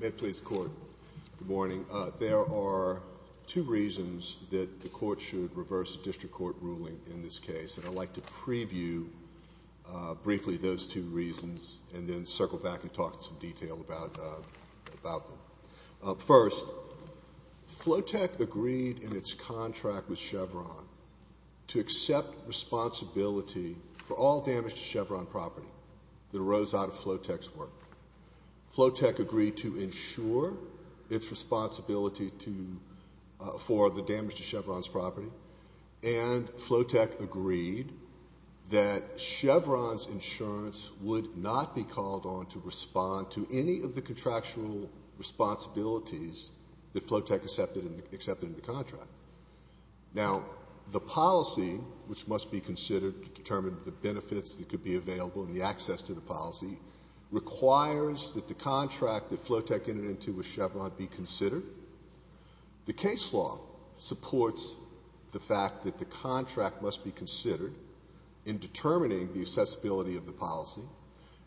May it please the Court. Good morning. There are two reasons that the Court should reverse a district court ruling in this case, and I'd like to preview briefly those two reasons and then circle back and talk in some detail about them. First, FloaTEC agreed in its contract with Chevron to accept responsibility for all damage to Chevron property that arose out of FloaTEC's work. FloaTEC agreed to insure its responsibility for the damage to Chevron's property, and FloaTEC agreed that Chevron's insurance would not be called on to respond to any of the contractual responsibilities that FloaTEC accepted in the contract. Now, the policy, which must be considered to determine the benefits that could be available and the access to the policy, requires that the contract that FloaTEC entered into with Chevron be considered. The case law supports the fact that the contract must be considered in determining the accessibility of the policy,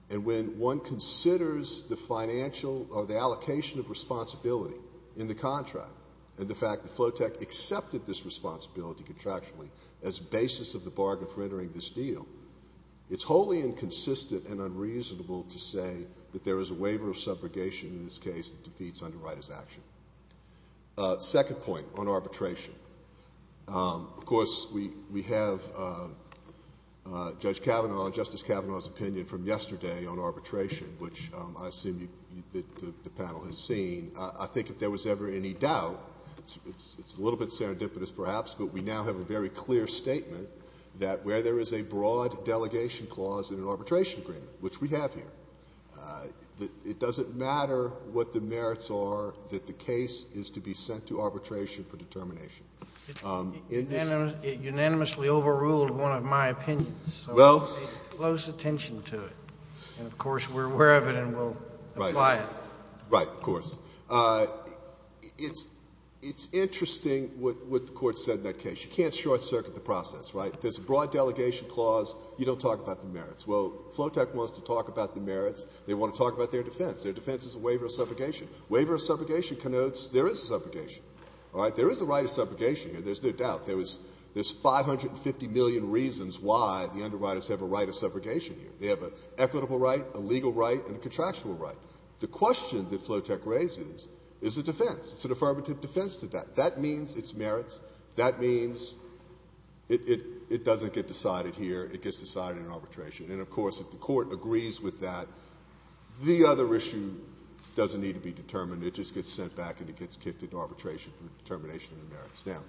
and when one considers the allocation of responsibility in the contract and the fact that FloaTEC accepted this responsibility contractually as basis of the bargain for entering this deal, it's wholly inconsistent and unreasonable to say that there is a waiver of subrogation in this case that defeats underwriter's action. Second point on arbitration. Of course, we have Judge Kavanaugh, Justice Kavanaugh's opinion from yesterday on arbitration, which I assume the panel has seen. I think if there was ever any doubt, it's a little bit serendipitous perhaps, but we now have a very clear statement that where there is a broad delegation clause in an arbitration agreement, which we have here, it doesn't matter what the merits are that the case is to be sent to arbitration for determination. It unanimously overruled one of my opinions, so we'll pay close attention to it. And, of course, we're aware of it and we'll apply it. Right. Of course. It's interesting what the Court said in that case. You can't short-circuit the process, right? If there's a broad delegation clause, you don't talk about the merits. Well, FLOTEC wants to talk about the merits. They want to talk about their defense. Their defense is a waiver of subrogation. Waiver of subrogation connotes there is subrogation. All right? There is a right of subrogation here. There's no doubt. There's 550 million reasons why the underwriters have a right of subrogation here. They have an equitable right, a legal right, and a contractual right. The question that FLOTEC raises is a defense. It's an affirmative defense to that. That means it's merits. That means it doesn't get decided here. It gets decided in an arbitration. And, of course, if the Court agrees with that, the other issue doesn't need to be determined. It just gets sent back and it gets kicked into arbitration for the determination of the merits. Now,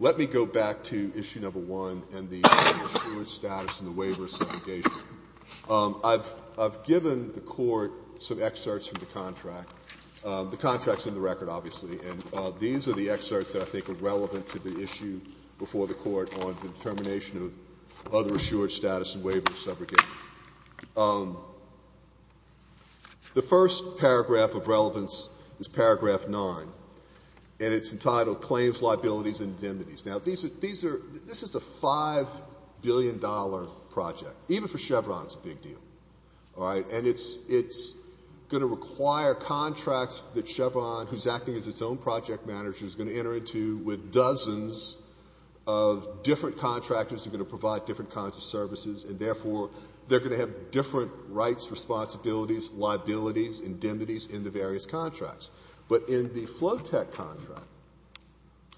let me go back to Issue No. 1 and the assurance status and the waiver of subrogation. I've given the Court some excerpts from the contract. The contract's in the record, obviously, and these are the excerpts that I think are relevant to the issue before the The first paragraph of relevance is Paragraph 9, and it's entitled Claims, Liabilities, and Indemnities. Now, these are — this is a $5 billion project. Even for Chevron, it's a big deal. All right? And it's going to require contracts that Chevron, who's acting as its own project manager, is going to enter into with dozens of different contractors who are going to provide different kinds of services, and, therefore, they're going to have different rights, responsibilities, liabilities, indemnities in the various contracts. But in the FloTech contract,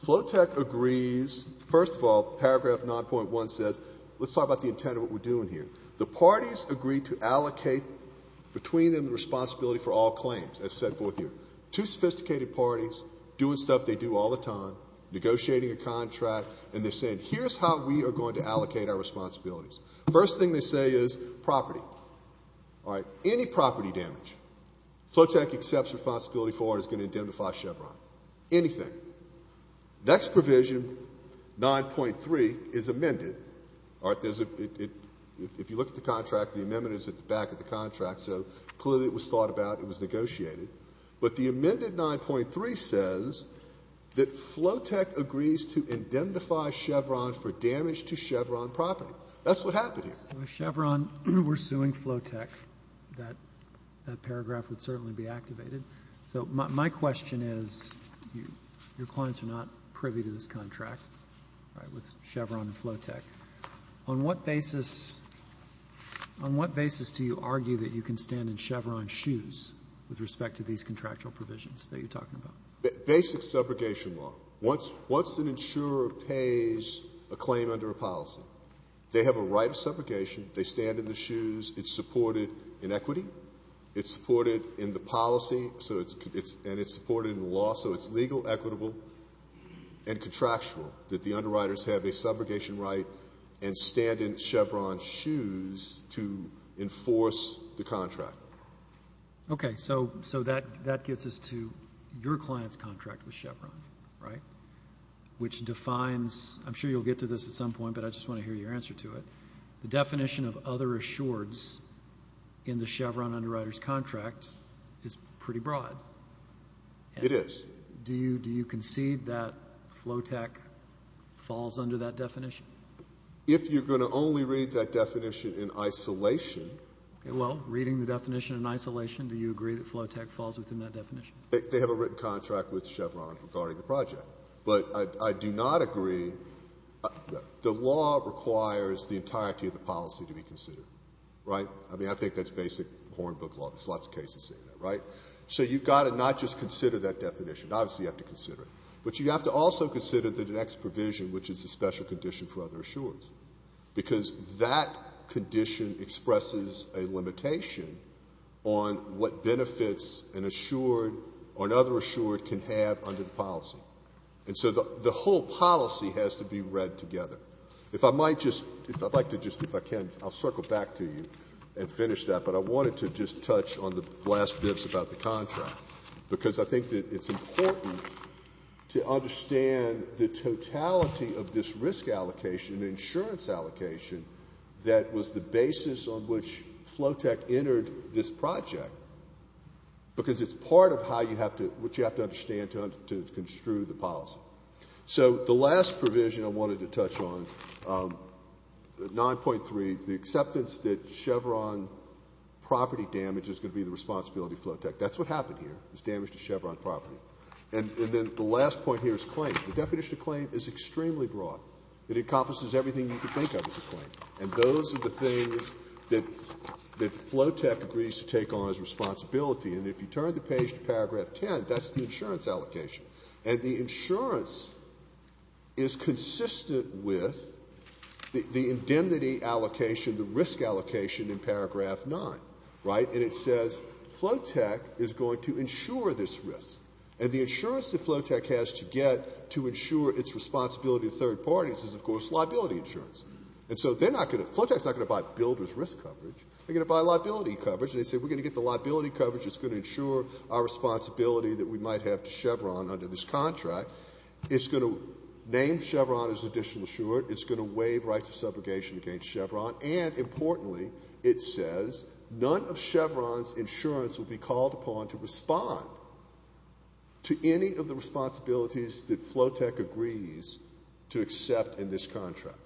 FloTech agrees — first of all, Paragraph 9.1 says — let's talk about the intent of what we're doing here. The parties agree to allocate between them the responsibility for all claims, as set forth here. Two sophisticated parties doing stuff they do all the time, negotiating a contract, and they're saying, here's how we are going to allocate our responsibilities. First thing they say is property. All right? Any property damage FloTech accepts responsibility for is going to indemnify Chevron. Anything. Next provision, 9.3, is amended. All right? There's a — if you look at the contract, the amendment is at the back of the contract, so clearly it was thought about, it was negotiated. But the amended 9.3 says that FloTech agrees to indemnify Chevron for damage to Chevron property. That's what happened here. Roberts. If Chevron were suing FloTech, that paragraph would certainly be activated. So my question is, your clients are not privy to this contract, right, with Chevron and FloTech. On what basis — on what basis do you argue that you can stand in Chevron's shoes with respect to these contractual provisions that you're talking about? Basic subrogation law. Once — once an insurer pays a claim under a policy, they have a right of subrogation, they stand in the shoes, it's supported in equity, it's supported in the policy, so it's — and it's supported in the law, so it's legal, equitable and contractual that the underwriters have a subrogation right and stand in Chevron's shoes to enforce the contract. Okay. So — so that — that gets us to your client's contract with Chevron, right, which defines — I'm sure you'll get to this at some point, but I just want to hear your answer to it. The definition of other assureds in the Chevron underwriter's contract is pretty broad. It is. Do you — do you concede that FloTech falls under that definition? If you're going to only read that definition in isolation — Well, reading the definition in isolation, do you agree that FloTech falls within that definition? They have a written contract with Chevron regarding the project. But I do not agree — the law requires the entirety of the policy to be considered, right? I mean, I think that's basic Hornbook law. There's lots of cases saying that, right? So you've got to not just consider that definition. Obviously, you have to consider it. But you have to also consider the next provision, which is a special condition for other assureds, because that condition expresses a limitation on what benefits an assured or another assured can have under the policy. And so the whole policy has to be read together. If I might just — if I'd like to just, if I can, I'll circle back to you and finish that, but I wanted to just touch on the last bits about the contract, because I think that it's important to understand the totality of this risk allocation and insurance allocation that was the basis on which FloTech entered this project, because it's part of how you have to — what you have to understand to construe the policy. So the last provision I wanted to touch on, 9.3, the acceptance that Chevron property damage is going to be the responsibility of FloTech. That's what happened here, this Chevron property. And then the last point here is claims. The definition of claim is extremely broad. It encompasses everything you could think of as a claim. And those are the things that FloTech agrees to take on as responsibility. And if you turn the page to paragraph 10, that's the insurance allocation. And the insurance is consistent with the indemnity allocation, the risk allocation in paragraph 9, right? And it says FloTech is going to insure this risk. And the insurance that FloTech has to get to insure its responsibility to third parties is, of course, liability insurance. And so they're not going to — FloTech is not going to buy builder's risk coverage. They're going to buy liability coverage. And they say, we're going to get the liability coverage that's going to insure our responsibility that we might have to Chevron under this contract. It's going to name Chevron as additional insurance. It's going to waive rights of subrogation against Chevron. And, importantly, it says none of Chevron's insurance will be called upon to respond to any of the responsibilities that FloTech agrees to accept in this contract.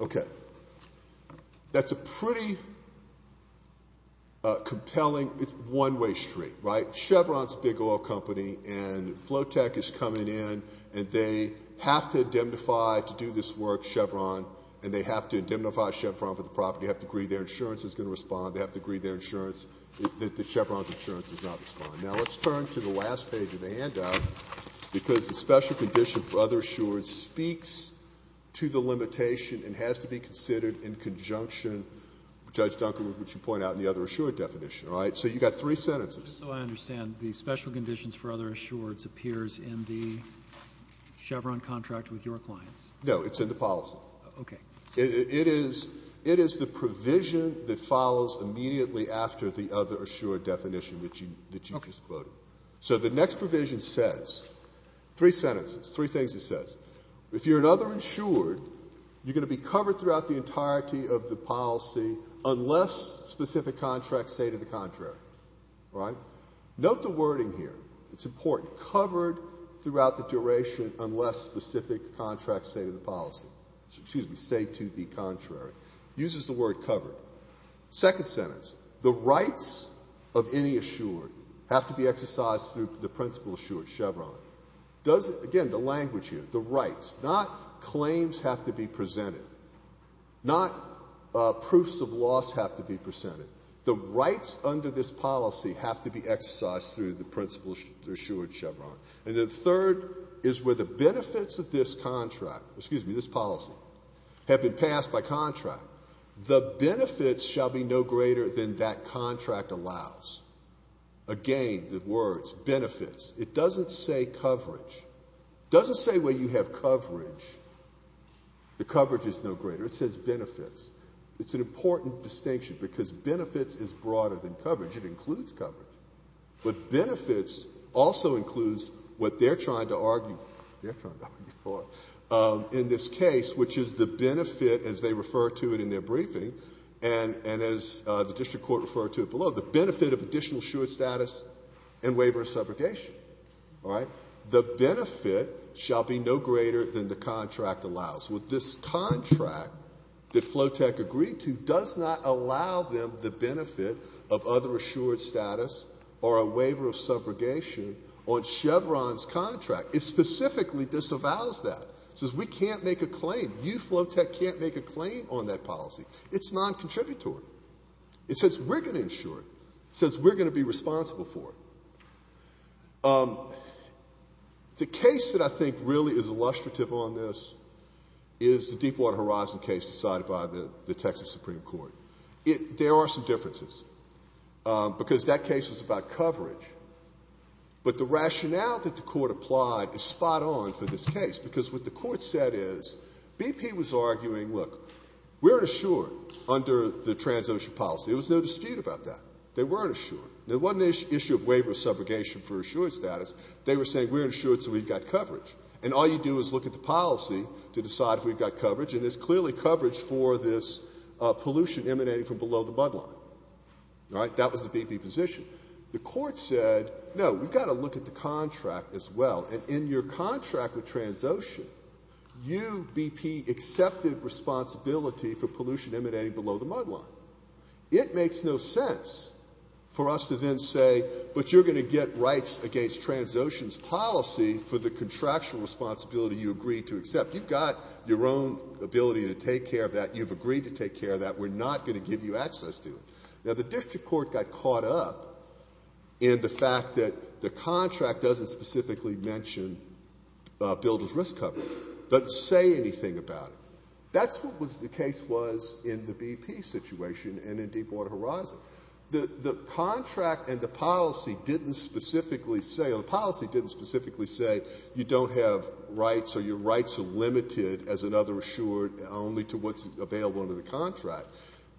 Okay. That's a pretty compelling — it's one-way street, right? Chevron's a big oil company, and FloTech is coming in, and they have to indemnify to do this work, Chevron, and they have to indemnify Chevron for the property. They have to agree their insurance is going to respond. They have to agree their insurance — that Chevron's insurance does not respond. Now, let's turn to the last page of the handout, because the special condition for other assurance speaks to the limitation and has to be considered in conjunction with Judge Dunkel, which you point out in the other assurance definition. All right? So you've got three sentences. So I understand the special conditions for other assurance appears in the Chevron contract with your clients. No. It's in the policy. Okay. It is the provision that follows immediately after the other assured definition that you just quoted. Okay. So the next provision says — three sentences, three things it says. If you're an other insured, you're going to be covered throughout the entirety of the policy unless specific contracts say to the contrary. All right? Note the wording here. It's important. Covered throughout the duration unless specific contracts say to the policy. Excuse me. Say to the contrary. Uses the word covered. Second sentence. The rights of any assured have to be exercised through the principle assured Chevron. Does — again, the language here. The rights. Not claims have to be presented. Not proofs of loss have to be presented. The rights under this policy have to be exercised through the principle assured Chevron. And then third is where the benefits of this contract — excuse me, this policy — have been passed by contract. The benefits shall be no greater than that contract allows. Again, the words benefits. It doesn't say coverage. It doesn't say where you have coverage. The coverage is no greater. It says benefits. It's an important distinction because benefits is broader than coverage. It includes coverage. But benefits also includes what they're trying to argue. They're trying to argue for in this case, which is the benefit, as they refer to it in their briefing, and as the district court referred to it below, the benefit of additional assured status and waiver of subrogation. All right? The benefit shall be no greater than the contract allows. This contract that FloTech agreed to does not allow them the benefit of other assured status or a waiver of subrogation on Chevron's contract. It specifically disavows that. It says we can't make a claim. You, FloTech, can't make a claim on that policy. It's non-contributory. It says we're going to insure it. It says we're going to be responsible for it. The case that I think really is illustrative on this is the Deepwater Horizon case decided by the Texas Supreme Court. There are some differences because that case was about coverage. But the rationale that the court applied is spot on for this case because what the court said is BP was arguing, look, we're insured under the trans-ocean policy. There was no dispute about that. They were insured. Now, it wasn't an issue of waiver of subrogation for assured status. They were saying we're insured so we've got coverage. And all you do is look at the policy to decide if we've got coverage, and there's clearly coverage for this pollution emanating from below the mud line. All right? That was the BP position. The court said, no, we've got to look at the contract as well. And in your contract with trans-ocean, you, BP, accepted responsibility for pollution emanating below the mud line. It makes no sense for us to then say, but you're going to get rights against trans-ocean's policy for the contractual responsibility you agreed to accept. You've got your own ability to take care of that. You've agreed to take care of that. We're not going to give you access to it. Now, the district court got caught up in the fact that the contract doesn't specifically mention builder's risk coverage, doesn't say anything about it. That's what the case was in the BP situation and in Deepwater Horizon. The contract and the policy didn't specifically say, or the policy didn't specifically say you don't have rights or your rights are limited, as another assured, only to what's available under the contract.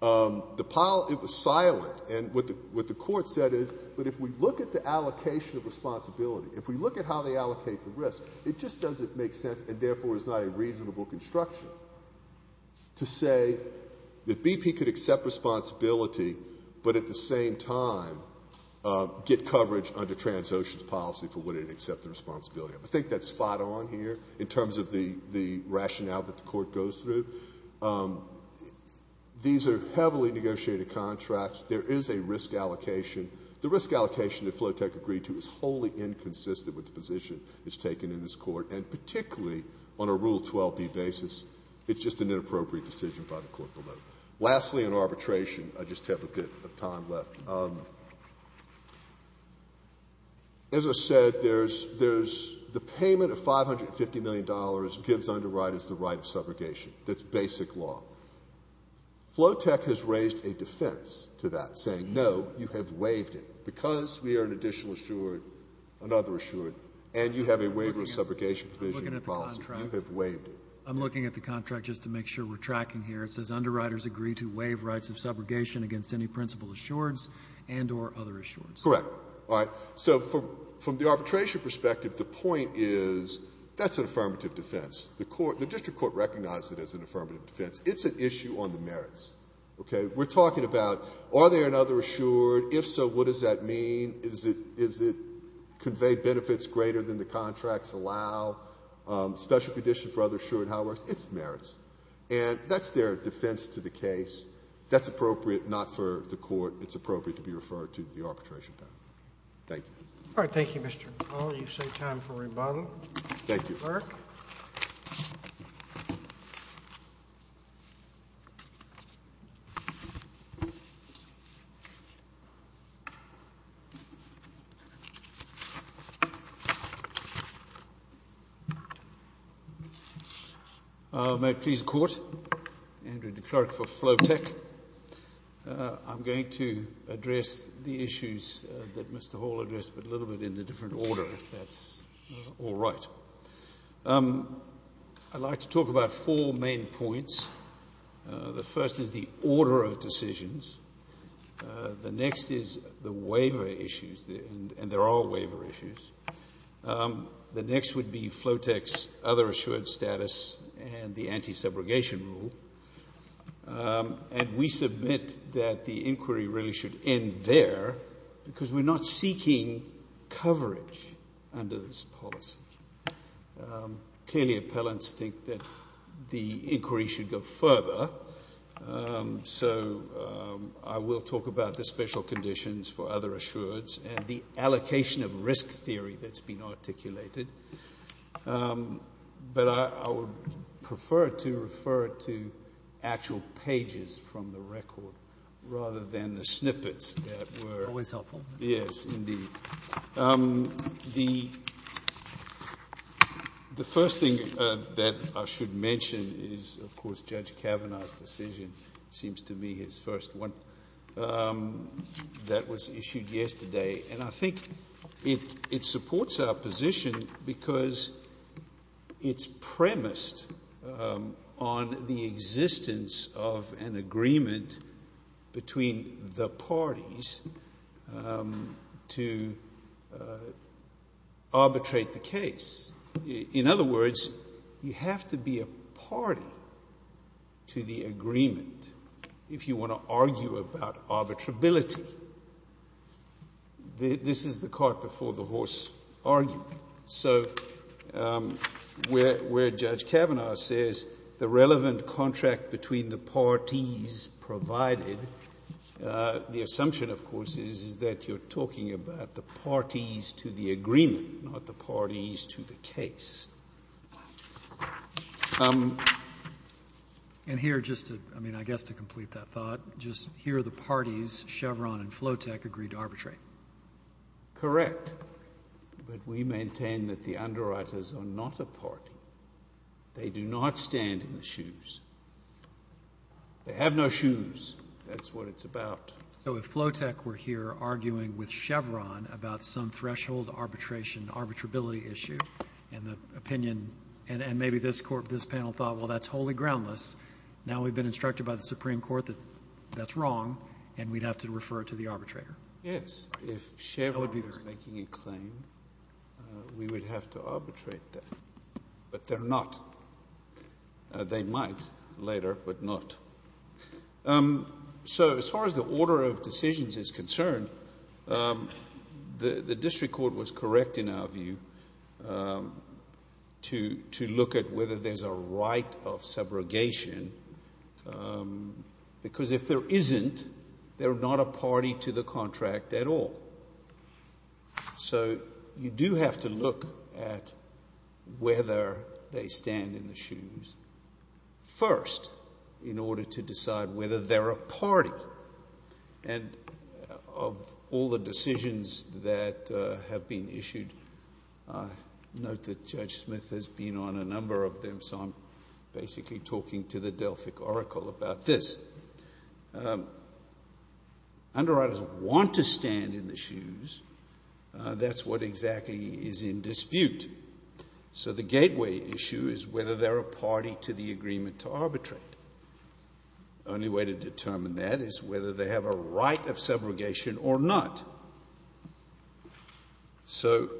It was silent. And what the court said is, but if we look at the allocation of responsibility, if we look at how they allocate the risk, it just doesn't make sense and therefore is not a reasonable construction to say that BP could accept responsibility but at the same time get coverage under trans-ocean's policy for what it'd accept the responsibility of. I think that's spot on here in terms of the rationale that the court goes through. These are heavily negotiated contracts. There is a risk allocation. The risk allocation that Flowtech agreed to is wholly inconsistent with the position that's taken in this court and particularly on a Rule 12b basis. It's just an inappropriate decision by the court below. Lastly, in arbitration, I just have a bit of time left. As I said, there's the payment of $550 million gives underwriters the right of subrogation. That's basic law. Flowtech has raised a defense to that, saying, no, you have waived it. Because we are an additional assured, another assured, and you have a waiver of subrogation provision in the policy. You have waived it. I'm looking at the contract just to make sure we're tracking here. It says, Underwriters agree to waive rights of subrogation against any principal assureds and or other assureds. Correct. All right. So from the arbitration perspective, the point is that's an affirmative defense. The court, the district court recognized it as an affirmative defense. It's an issue on the merits. Okay? We're talking about are there another assured? If so, what does that mean? Is it conveyed benefits greater than the contracts allow? Special condition for other assured? However, it's merits. And that's their defense to the case. That's appropriate not for the court. It's appropriate to be referred to the arbitration panel. Thank you. All right. Thank you, Mr. McCaul. You've saved time for rebuttal. Thank you. The clerk. May it please the court. Andrew, the clerk for Flow Tech. I'm going to address the issues that Mr Hall addressed, but a little bit in a different order, if that's all right. I'd like to talk about four main points. The first is the order of decisions. The next is the waiver issues. And there are waiver issues. The next would be Flow Tech's other assured status and the anti-segregation rule. And we submit that the inquiry really should end there because we're not seeking coverage under this policy. Clearly, appellants think that the inquiry should go further. So I will talk about the special conditions for other assureds and the allocation of risk theory that's been articulated. But I would prefer to refer to actual pages from the record rather than the snippets that were. Always helpful. Yes, indeed. The first thing that I should mention is, of course, Judge Kavanaugh's decision seems to be his first one that was issued yesterday. And I think it supports our position because it's premised on the existence of an agreement between the parties to arbitrate the case. In other words, you have to be a party to the agreement if you want to argue about arbitrability. This is the cart before the horse argument. So where Judge Kavanaugh says the relevant contract between the parties provided, the assumption, of course, is that you're talking about the parties to the agreement, not the parties to the case. And here, just to, I mean, I guess to complete that thought, just here are the parties Chevron and FloTech agreed to arbitrate. Correct. But we maintain that the underwriters are not a party. They do not stand in the shoes. They have no shoes. That's what it's about. So if FloTech were here arguing with Chevron about some threshold arbitration, arbitrability issue, and the opinion and maybe this panel thought, well, that's wholly groundless, now we've been instructed by the Supreme Court that that's wrong and we'd have to refer it to the arbitrator. Yes. If Chevron was making a claim, we would have to arbitrate that. But they're not. They might later, but not. So as far as the order of decisions is concerned, the district court was correct in our view to look at whether there's a right of subrogation because if there isn't, they're not a party to the contract at all. So you do have to look at whether they stand in the shoes first in order to decide whether they're a party. And of all the decisions that have been issued, note that Judge Smith has been on a number of them, so I'm basically talking to the Delphic Oracle about this. Underwriters want to stand in the shoes. That's what exactly is in dispute. So the gateway issue is whether they're a party to the agreement to arbitrate. The only way to determine that is whether they have a right of subrogation or not. So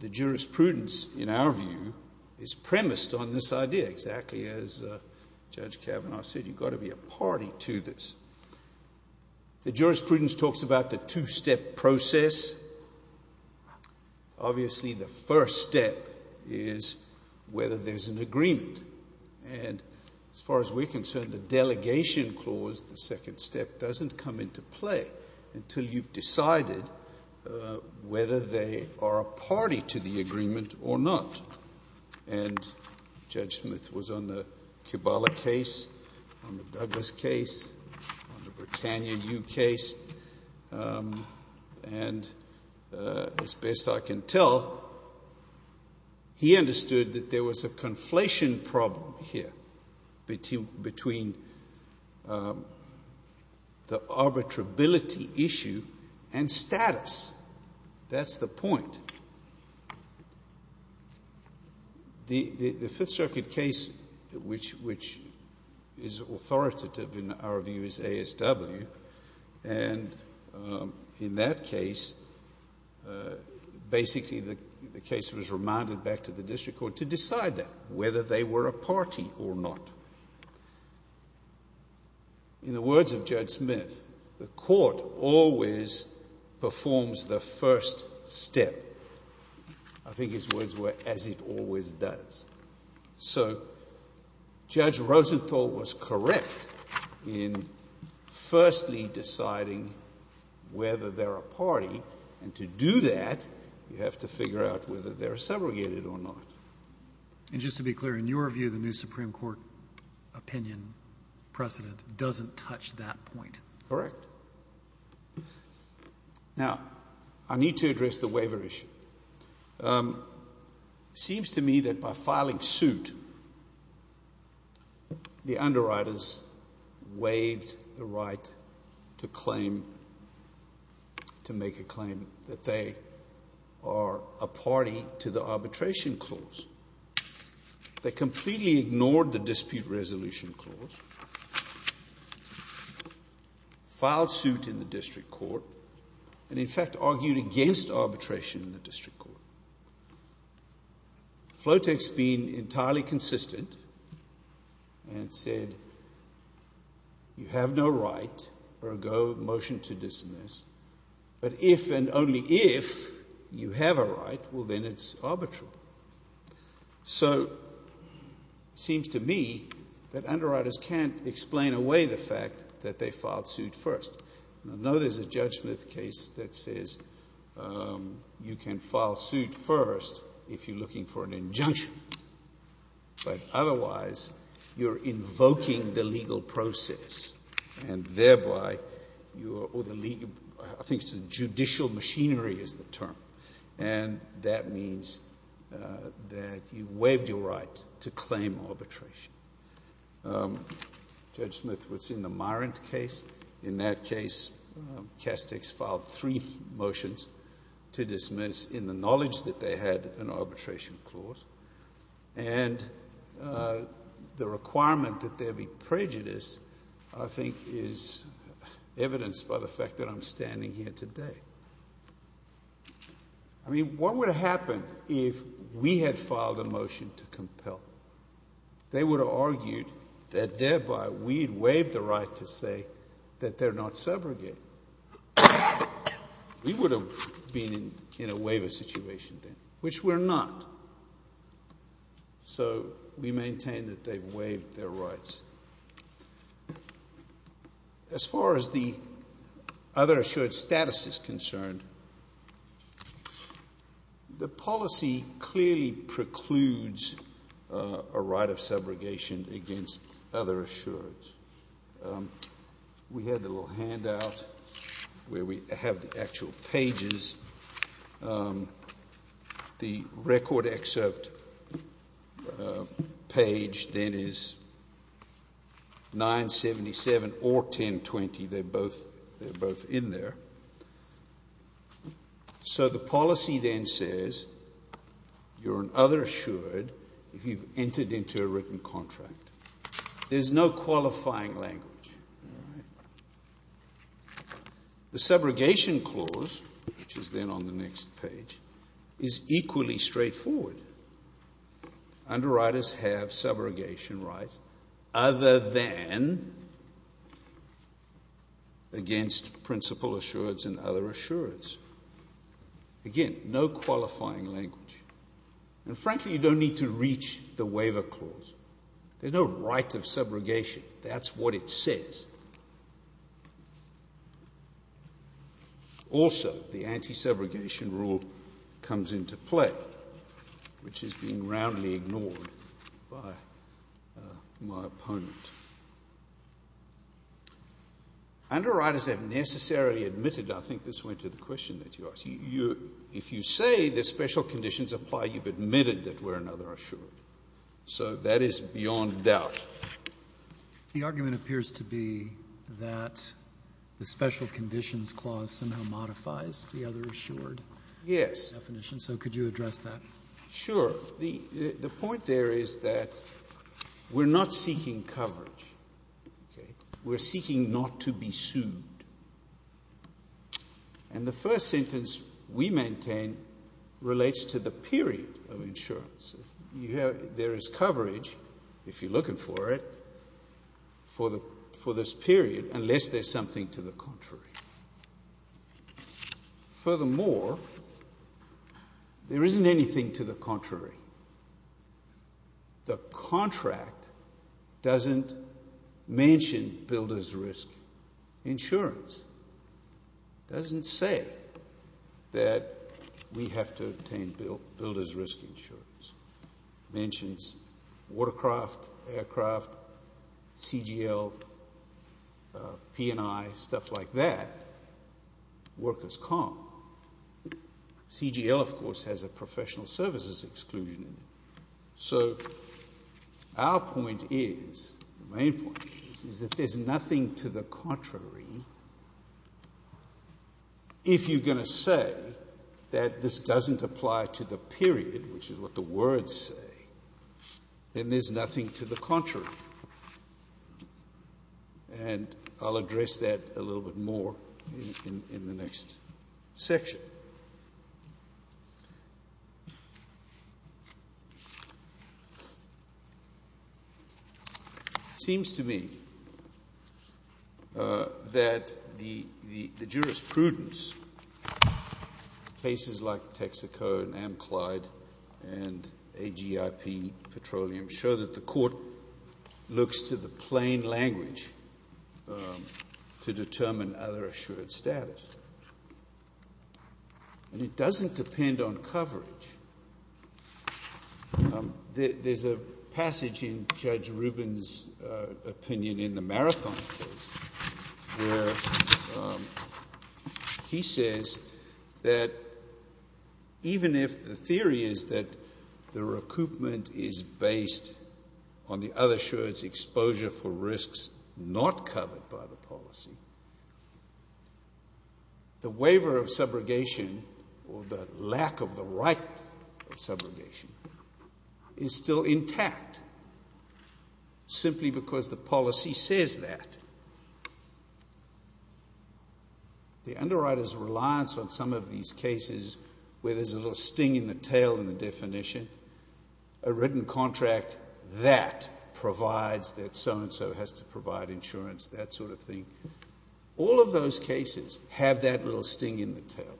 the jurisprudence, in our view, is premised on this idea, exactly as Judge Kavanaugh said. You've got to be a party to this. The jurisprudence talks about the two-step process. Obviously, the first step is whether there's an agreement. And as far as we're concerned, the delegation clause, the second step, doesn't come into play until you've decided whether they are a party to the agreement or not. And Judge Smith was on the Kibale case, on the Douglas case, on the Britannia U case. And as best I can tell, he understood that there was a conflation problem here between the arbitrability issue and status. That's the point. The Fifth Circuit case, which is authoritative in our view as ASW, and in that case, basically the case was remanded back to the district court to decide that, whether they were a party or not. In the words of Judge Smith, the court always performs the first step. I think his words were, as it always does. So Judge Rosenthal was correct in firstly deciding whether they're a party. And to do that, you have to figure out whether they're segregated or not. And just to be clear, in your view, the new Supreme Court opinion precedent doesn't touch that point. Correct. Now, I need to address the waiver issue. It seems to me that by filing suit, the underwriters waived the right to claim, to make a claim that they are a party to the arbitration clause. They completely ignored the dispute resolution clause, filed suit in the district court, and in fact argued against arbitration in the district court. Flotex being entirely consistent and said, you have no right, ergo motion to dismiss, but if and only if you have a right, well then it's arbitrable. So it seems to me that underwriters can't explain away the fact that they filed suit first. I know there's a Judge Smith case that says you can file suit first if you're looking for an injunction. But otherwise, you're invoking the legal process. And thereby, I think judicial machinery is the term. And that means that you've waived your right to claim arbitration. Judge Smith was in the Myrant case. In that case, Castex filed three motions to dismiss in the knowledge that they had an arbitration clause. And the requirement that there be prejudice, I think, is evidenced by the fact that I'm standing here today. I mean, what would have happened if we had filed a motion to compel? They would have argued that thereby we had waived the right to say that they're not segregated. We would have been in a waiver situation then, which we're not. So we maintain that they've waived their rights. As far as the other assured status is concerned, the policy clearly precludes a right of subrogation against other assureds. We had the little handout where we have the actual pages. The record excerpt page then is 977 or 1020. They're both in there. So the policy then says you're an other assured if you've entered into a written contract. There's no qualifying language. All right. The subrogation clause, which is then on the next page, is equally straightforward. Underwriters have subrogation rights other than against principal assureds and other assureds. Again, no qualifying language. And frankly, you don't need to reach the waiver clause. There's no right of subrogation. That's what it says. Also, the anti-subrogation rule comes into play, which has been roundly ignored by my opponent. Underwriters have necessarily admitted, I think this went to the question that you asked, if you say the special conditions apply, you've admitted that we're an other assured. So that is beyond doubt. The argument appears to be that the special conditions clause somehow modifies the other assured definition. So could you address that? Sure. The point there is that we're not seeking coverage. We're seeking not to be sued. And the first sentence we maintain relates to the period of insurance. There is coverage, if you're looking for it, for this period unless there's something to the contrary. Furthermore, there isn't anything to the contrary. The contract doesn't mention builder's risk insurance. It doesn't say that we have to obtain builder's risk insurance. It mentions watercraft, aircraft, CGL, P&I, stuff like that, workers' comp. CGL, of course, has a professional services exclusion. So our point is, the main point is, is that there's nothing to the contrary. If you're going to say that this doesn't apply to the period, which is what the words say, then there's nothing to the contrary. And I'll address that a little bit more in the next section. It seems to me that the jurisprudence, places like Texaco and Amclyde and AGIP Petroleum, show that the court looks to the plain language to determine other assured status. And it doesn't depend on coverage. There's a passage in Judge Rubin's opinion in the Marathon case where he says that even if the theory is that the recoupment is based on the other assured exposure for risks not covered by the policy, the waiver of subrogation, or the lack of the right of subrogation, is still intact, simply because the policy says that. The underwriter's reliance on some of these cases where there's a little sting in the tail in the definition, a written contract that provides that so-and-so has to provide insurance, that sort of thing, all of those cases have that little sting in the tail.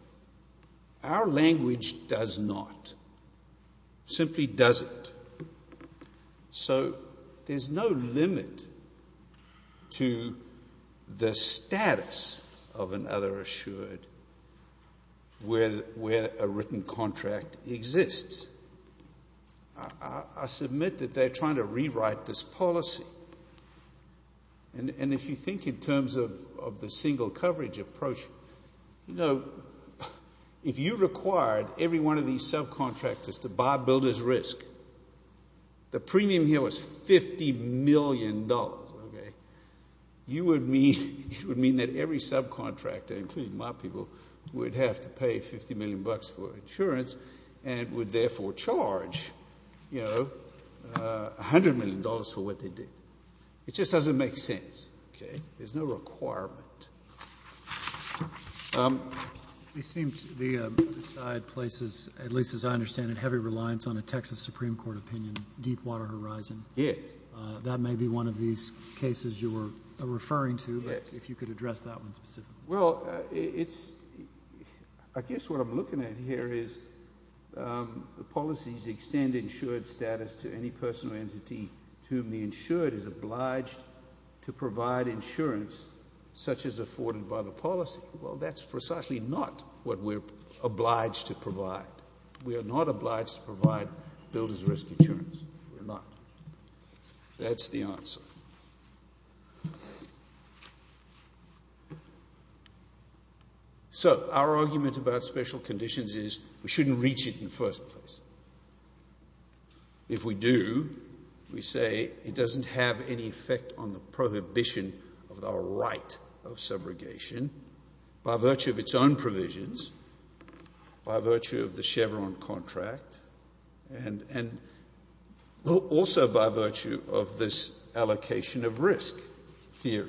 Our language does not. Simply doesn't. So there's no limit to the status of an other assured where a written contract exists. I submit that they're trying to rewrite this policy. And if you think in terms of the single coverage approach, if you required every one of these subcontractors to buy builder's risk, the premium here was $50 million, you would mean that every subcontractor, including my people, would have to pay $50 million for insurance and would therefore charge $100 million for what they did. It just doesn't make sense. Okay? There's no requirement. It seems the other side places, at least as I understand it, heavy reliance on a Texas Supreme Court opinion, Deepwater Horizon. Yes. That may be one of these cases you were referring to, but if you could address that one specifically. Well, I guess what I'm looking at here is the policies extend insured status to any personal entity to whom the insured is obliged to provide insurance such as afforded by the policy. Well, that's precisely not what we're obliged to provide. We are not obliged to provide builder's risk insurance. We're not. That's the answer. So our argument about special conditions is we shouldn't reach it in the first place. If we do, we say it doesn't have any effect on the prohibition of the right of subrogation by virtue of its own provisions, by virtue of the Chevron contract, and also by virtue of this allocation of risk theory.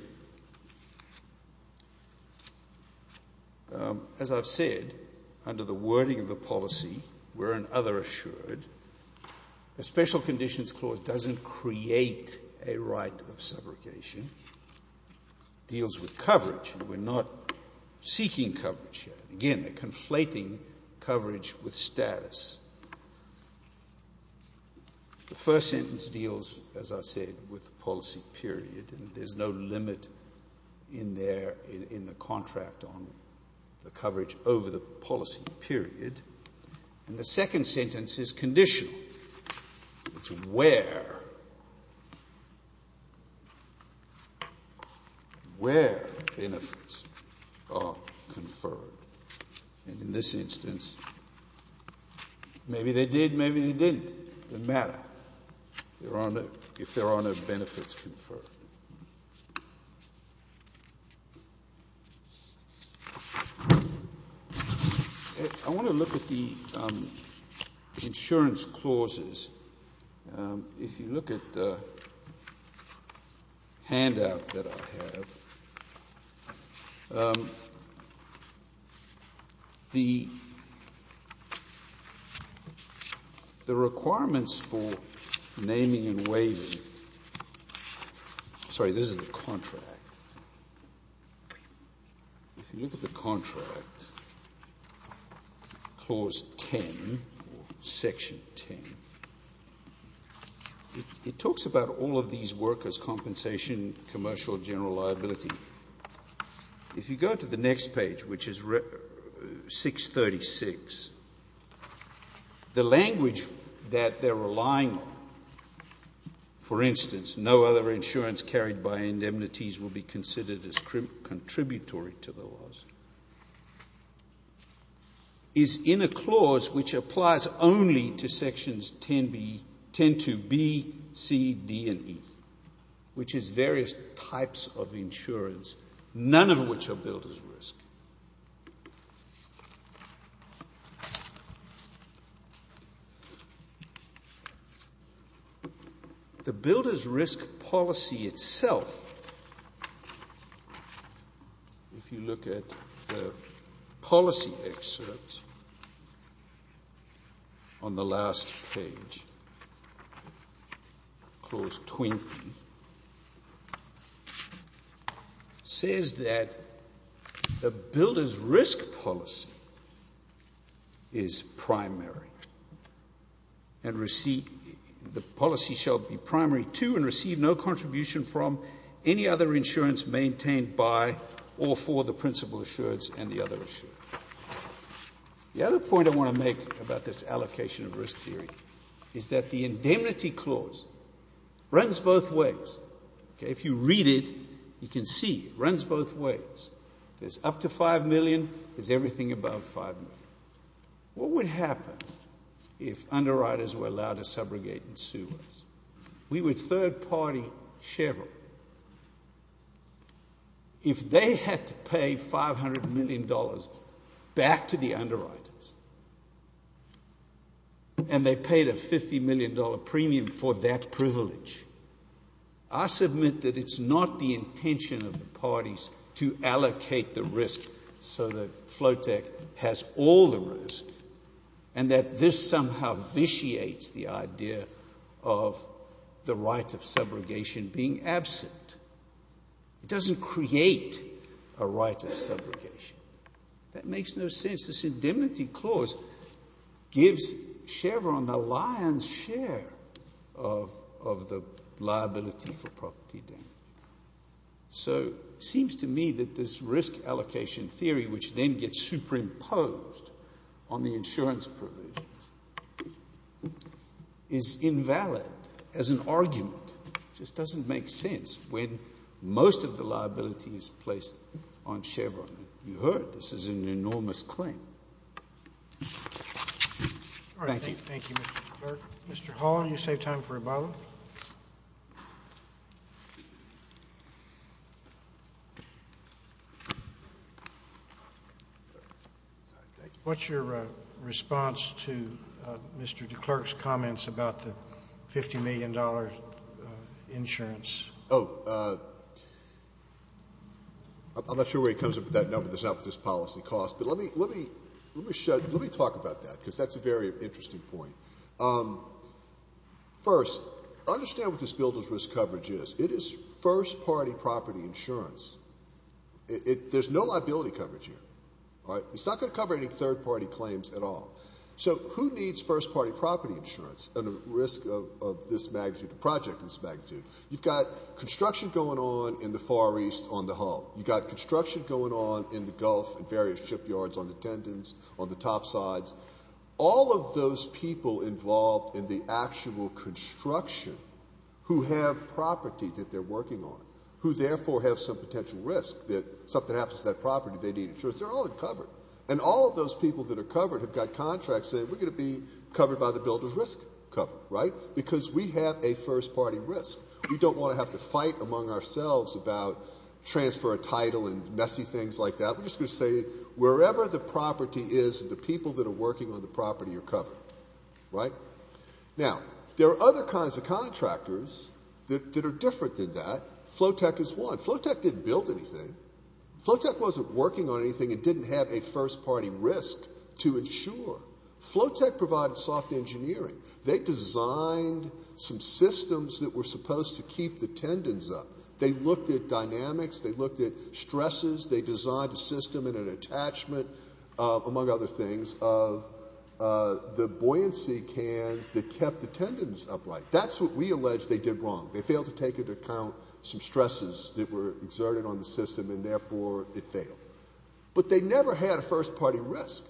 As I've said, under the wording of the policy, we're an other assured. The special conditions clause doesn't create a right of subrogation. It deals with coverage. We're not seeking coverage here. Again, a conflating coverage with status. The first sentence deals, as I said, with the policy period. There's no limit in the contract on the coverage over the policy period. And the second sentence is conditional. It's where benefits are conferred. And in this instance, maybe they did, maybe they didn't. It doesn't really matter if there are no benefits conferred. I want to look at the insurance clauses. If you look at the handout that I have, the requirements for naming and waiving Sorry, this is the contract. If you look at the contract, clause 10, section 10, it talks about all of these workers' compensation, commercial, general liability. If you go to the next page, which is 636, the language that they're relying on, for instance, no other insurance carried by indemnities will be considered as contributory to the laws, is in a clause which applies only to sections 10-2B, C, D, and E, which is various types of insurance, none of which are billed as risk. The billed as risk policy itself, if you look at the policy excerpt on the last page, clause 20, says that the billed as risk policy is primary, and the policy shall be primary to and receive no contribution from any other insurance maintained by or for the principal assured and the other assured. The other point I want to make about this allocation of risk theory is that the indemnity clause runs both ways. If you read it, you can see it runs both ways. There's up to $5 million, there's everything above $5 million. What would happen if underwriters were allowed to subrogate and sue us? We were third-party Chevrolet. If they had to pay $500 million back to the underwriters, and they paid a $50 million premium for that privilege, I submit that it's not the intention of the parties to allocate the risk so that Flowtech has all the risk, and that this somehow vitiates the idea of the right of subrogation being absent. It doesn't create a right of subrogation. That makes no sense. This indemnity clause gives Chevron the lion's share of the liability for property damage. So it seems to me that this risk allocation theory, which then gets superimposed on the insurance privileges, is invalid as an argument. It just doesn't make sense when most of the liability is placed on Chevron. You heard, this is an enormous claim. Thank you. Thank you, Mr. Clark. Mr. Hall, you save time for rebuttal. What's your response to Mr. DeClerk's comments about the $50 million insurance? Oh, I'm not sure where he comes up with that number. There's not this policy cost. But let me talk about that, because that's a very interesting point. First, understand what this builder's risk coverage is. It is first-party property insurance. There's no liability coverage here. It's not going to cover any third-party claims at all. So who needs first-party property insurance at a risk of this magnitude, a project this magnitude? You've got construction going on in the Gulf and various shipyards on the Tendons, on the top sides. All of those people involved in the actual construction who have property that they're working on, who therefore have some potential risk that something happens to that property, they need insurance. They're all covered. And all of those people that are covered have got contracts saying we're going to be covered by the builder's risk cover, right? Because we have a first-party risk. We don't want to have to fight among ourselves about transfer of title and messy things like that. We're just going to say wherever the property is, the people that are working on the property are covered, right? Now, there are other kinds of contractors that are different than that. Flowtech is one. Flowtech didn't build anything. Flowtech wasn't working on anything. It didn't have a first-party risk to insure. Flowtech provided soft engineering. They designed some systems that were supposed to keep the Tendons up. They looked at dynamics. They looked at stresses. They designed a system and an attachment, among other things, of the buoyancy cans that kept the Tendons upright. That's what we allege they did wrong. They failed to take into account some stresses that were exerted on the system, and therefore it failed. But they never had a first-party risk.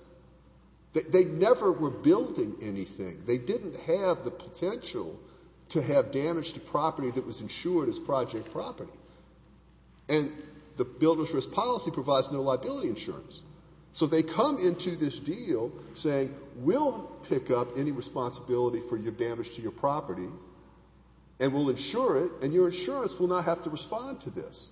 They never were building anything. They didn't have the potential to have damage to property that was insured as project property. And the builder's risk policy provides no liability insurance. So they come into this deal saying we'll pick up any responsibility for your damage to your property and we'll insure it, and your insurance will not have to respond to this,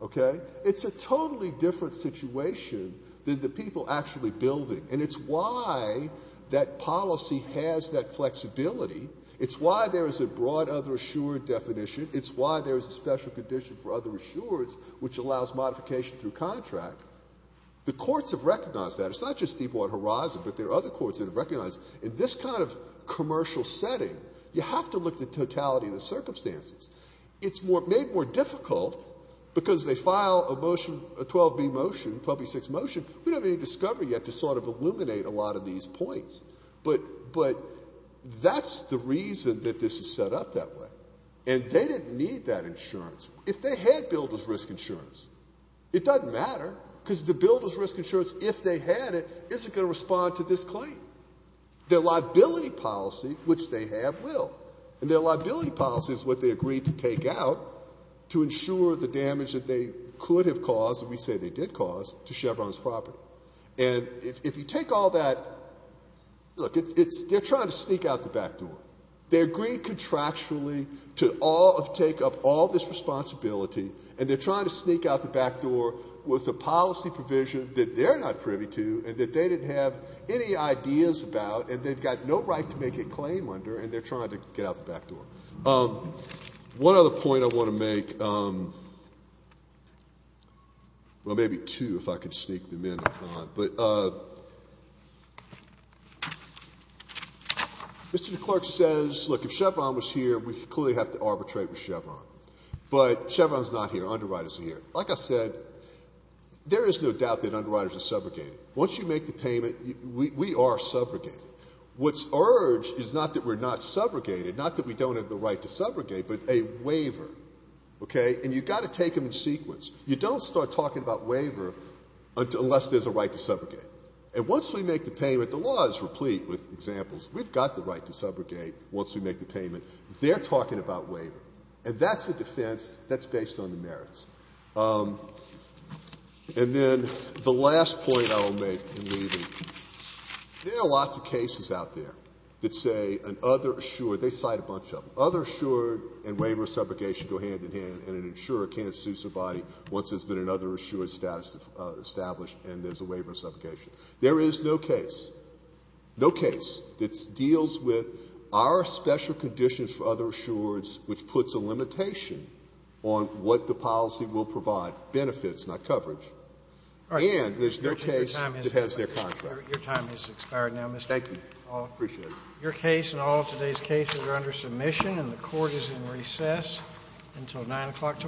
okay? It's a totally different situation than the people actually building, and it's why that policy has that flexibility. It's why there is a broad other-assured definition. It's why there is a special condition for other-assureds, which allows modification through contract. The courts have recognized that. It's not just Deepwater Horizon, but there are other courts that have recognized in this kind of commercial setting, you have to look at the totality of the circumstances. It's made more difficult because they file a motion, a 12b motion, 12b-6 motion, we don't have any discovery yet to sort of illuminate a lot of these points. But that's the reason that this is set up that way. And they didn't need that insurance. If they had builder's risk insurance, it doesn't matter, because the builder's risk insurance, if they had it, isn't going to respond to this claim. Their liability policy, which they have, will. And their liability policy is what they agreed to take out to insure the damage that they could have caused, and we say they did cause, to Chevron's property. And if you take all that, look, it's they're trying to sneak out the back door. They agreed contractually to all of take up all this responsibility, and they're trying to sneak out the back door with a policy provision that they're not privy to and that they didn't have any ideas about and they've got no right to make a claim under, and they're trying to get out the back door. One other point I want to make, well, maybe two if I can sneak them in. But Mr. Clark says, look, if Chevron was here, we clearly have to arbitrate with Chevron. But Chevron's not here. Underwriters are here. Like I said, there is no doubt that underwriters are subrogated. Once you make the payment, we are subrogated. What's urged is not that we're not subrogated, not that we don't have the right to subrogate, but a waiver. Okay? And you've got to take them in sequence. You don't start talking about waiver unless there's a right to subrogate. And once we make the payment, the law is replete with examples. We've got the right to subrogate once we make the payment. They're talking about waiver. And that's a defense that's based on the merits. And then the last point I will make in leaving, there are lots of cases out there that say an other assured, they cite a bunch of them, other assured and waiver of subrogation go hand in hand, and an insurer can't sue somebody once there's been another assured status established and there's a waiver of subrogation. There is no case, no case, that deals with our special conditions for other assureds, which puts a limitation on what the policy will provide, benefits, not coverage. And there's no case that has their contract. Your time has expired now, Mr. Hall. Thank you. I appreciate it. Your case and all of today's cases are under submission, and the Court is in recess until 9 o'clock tomorrow.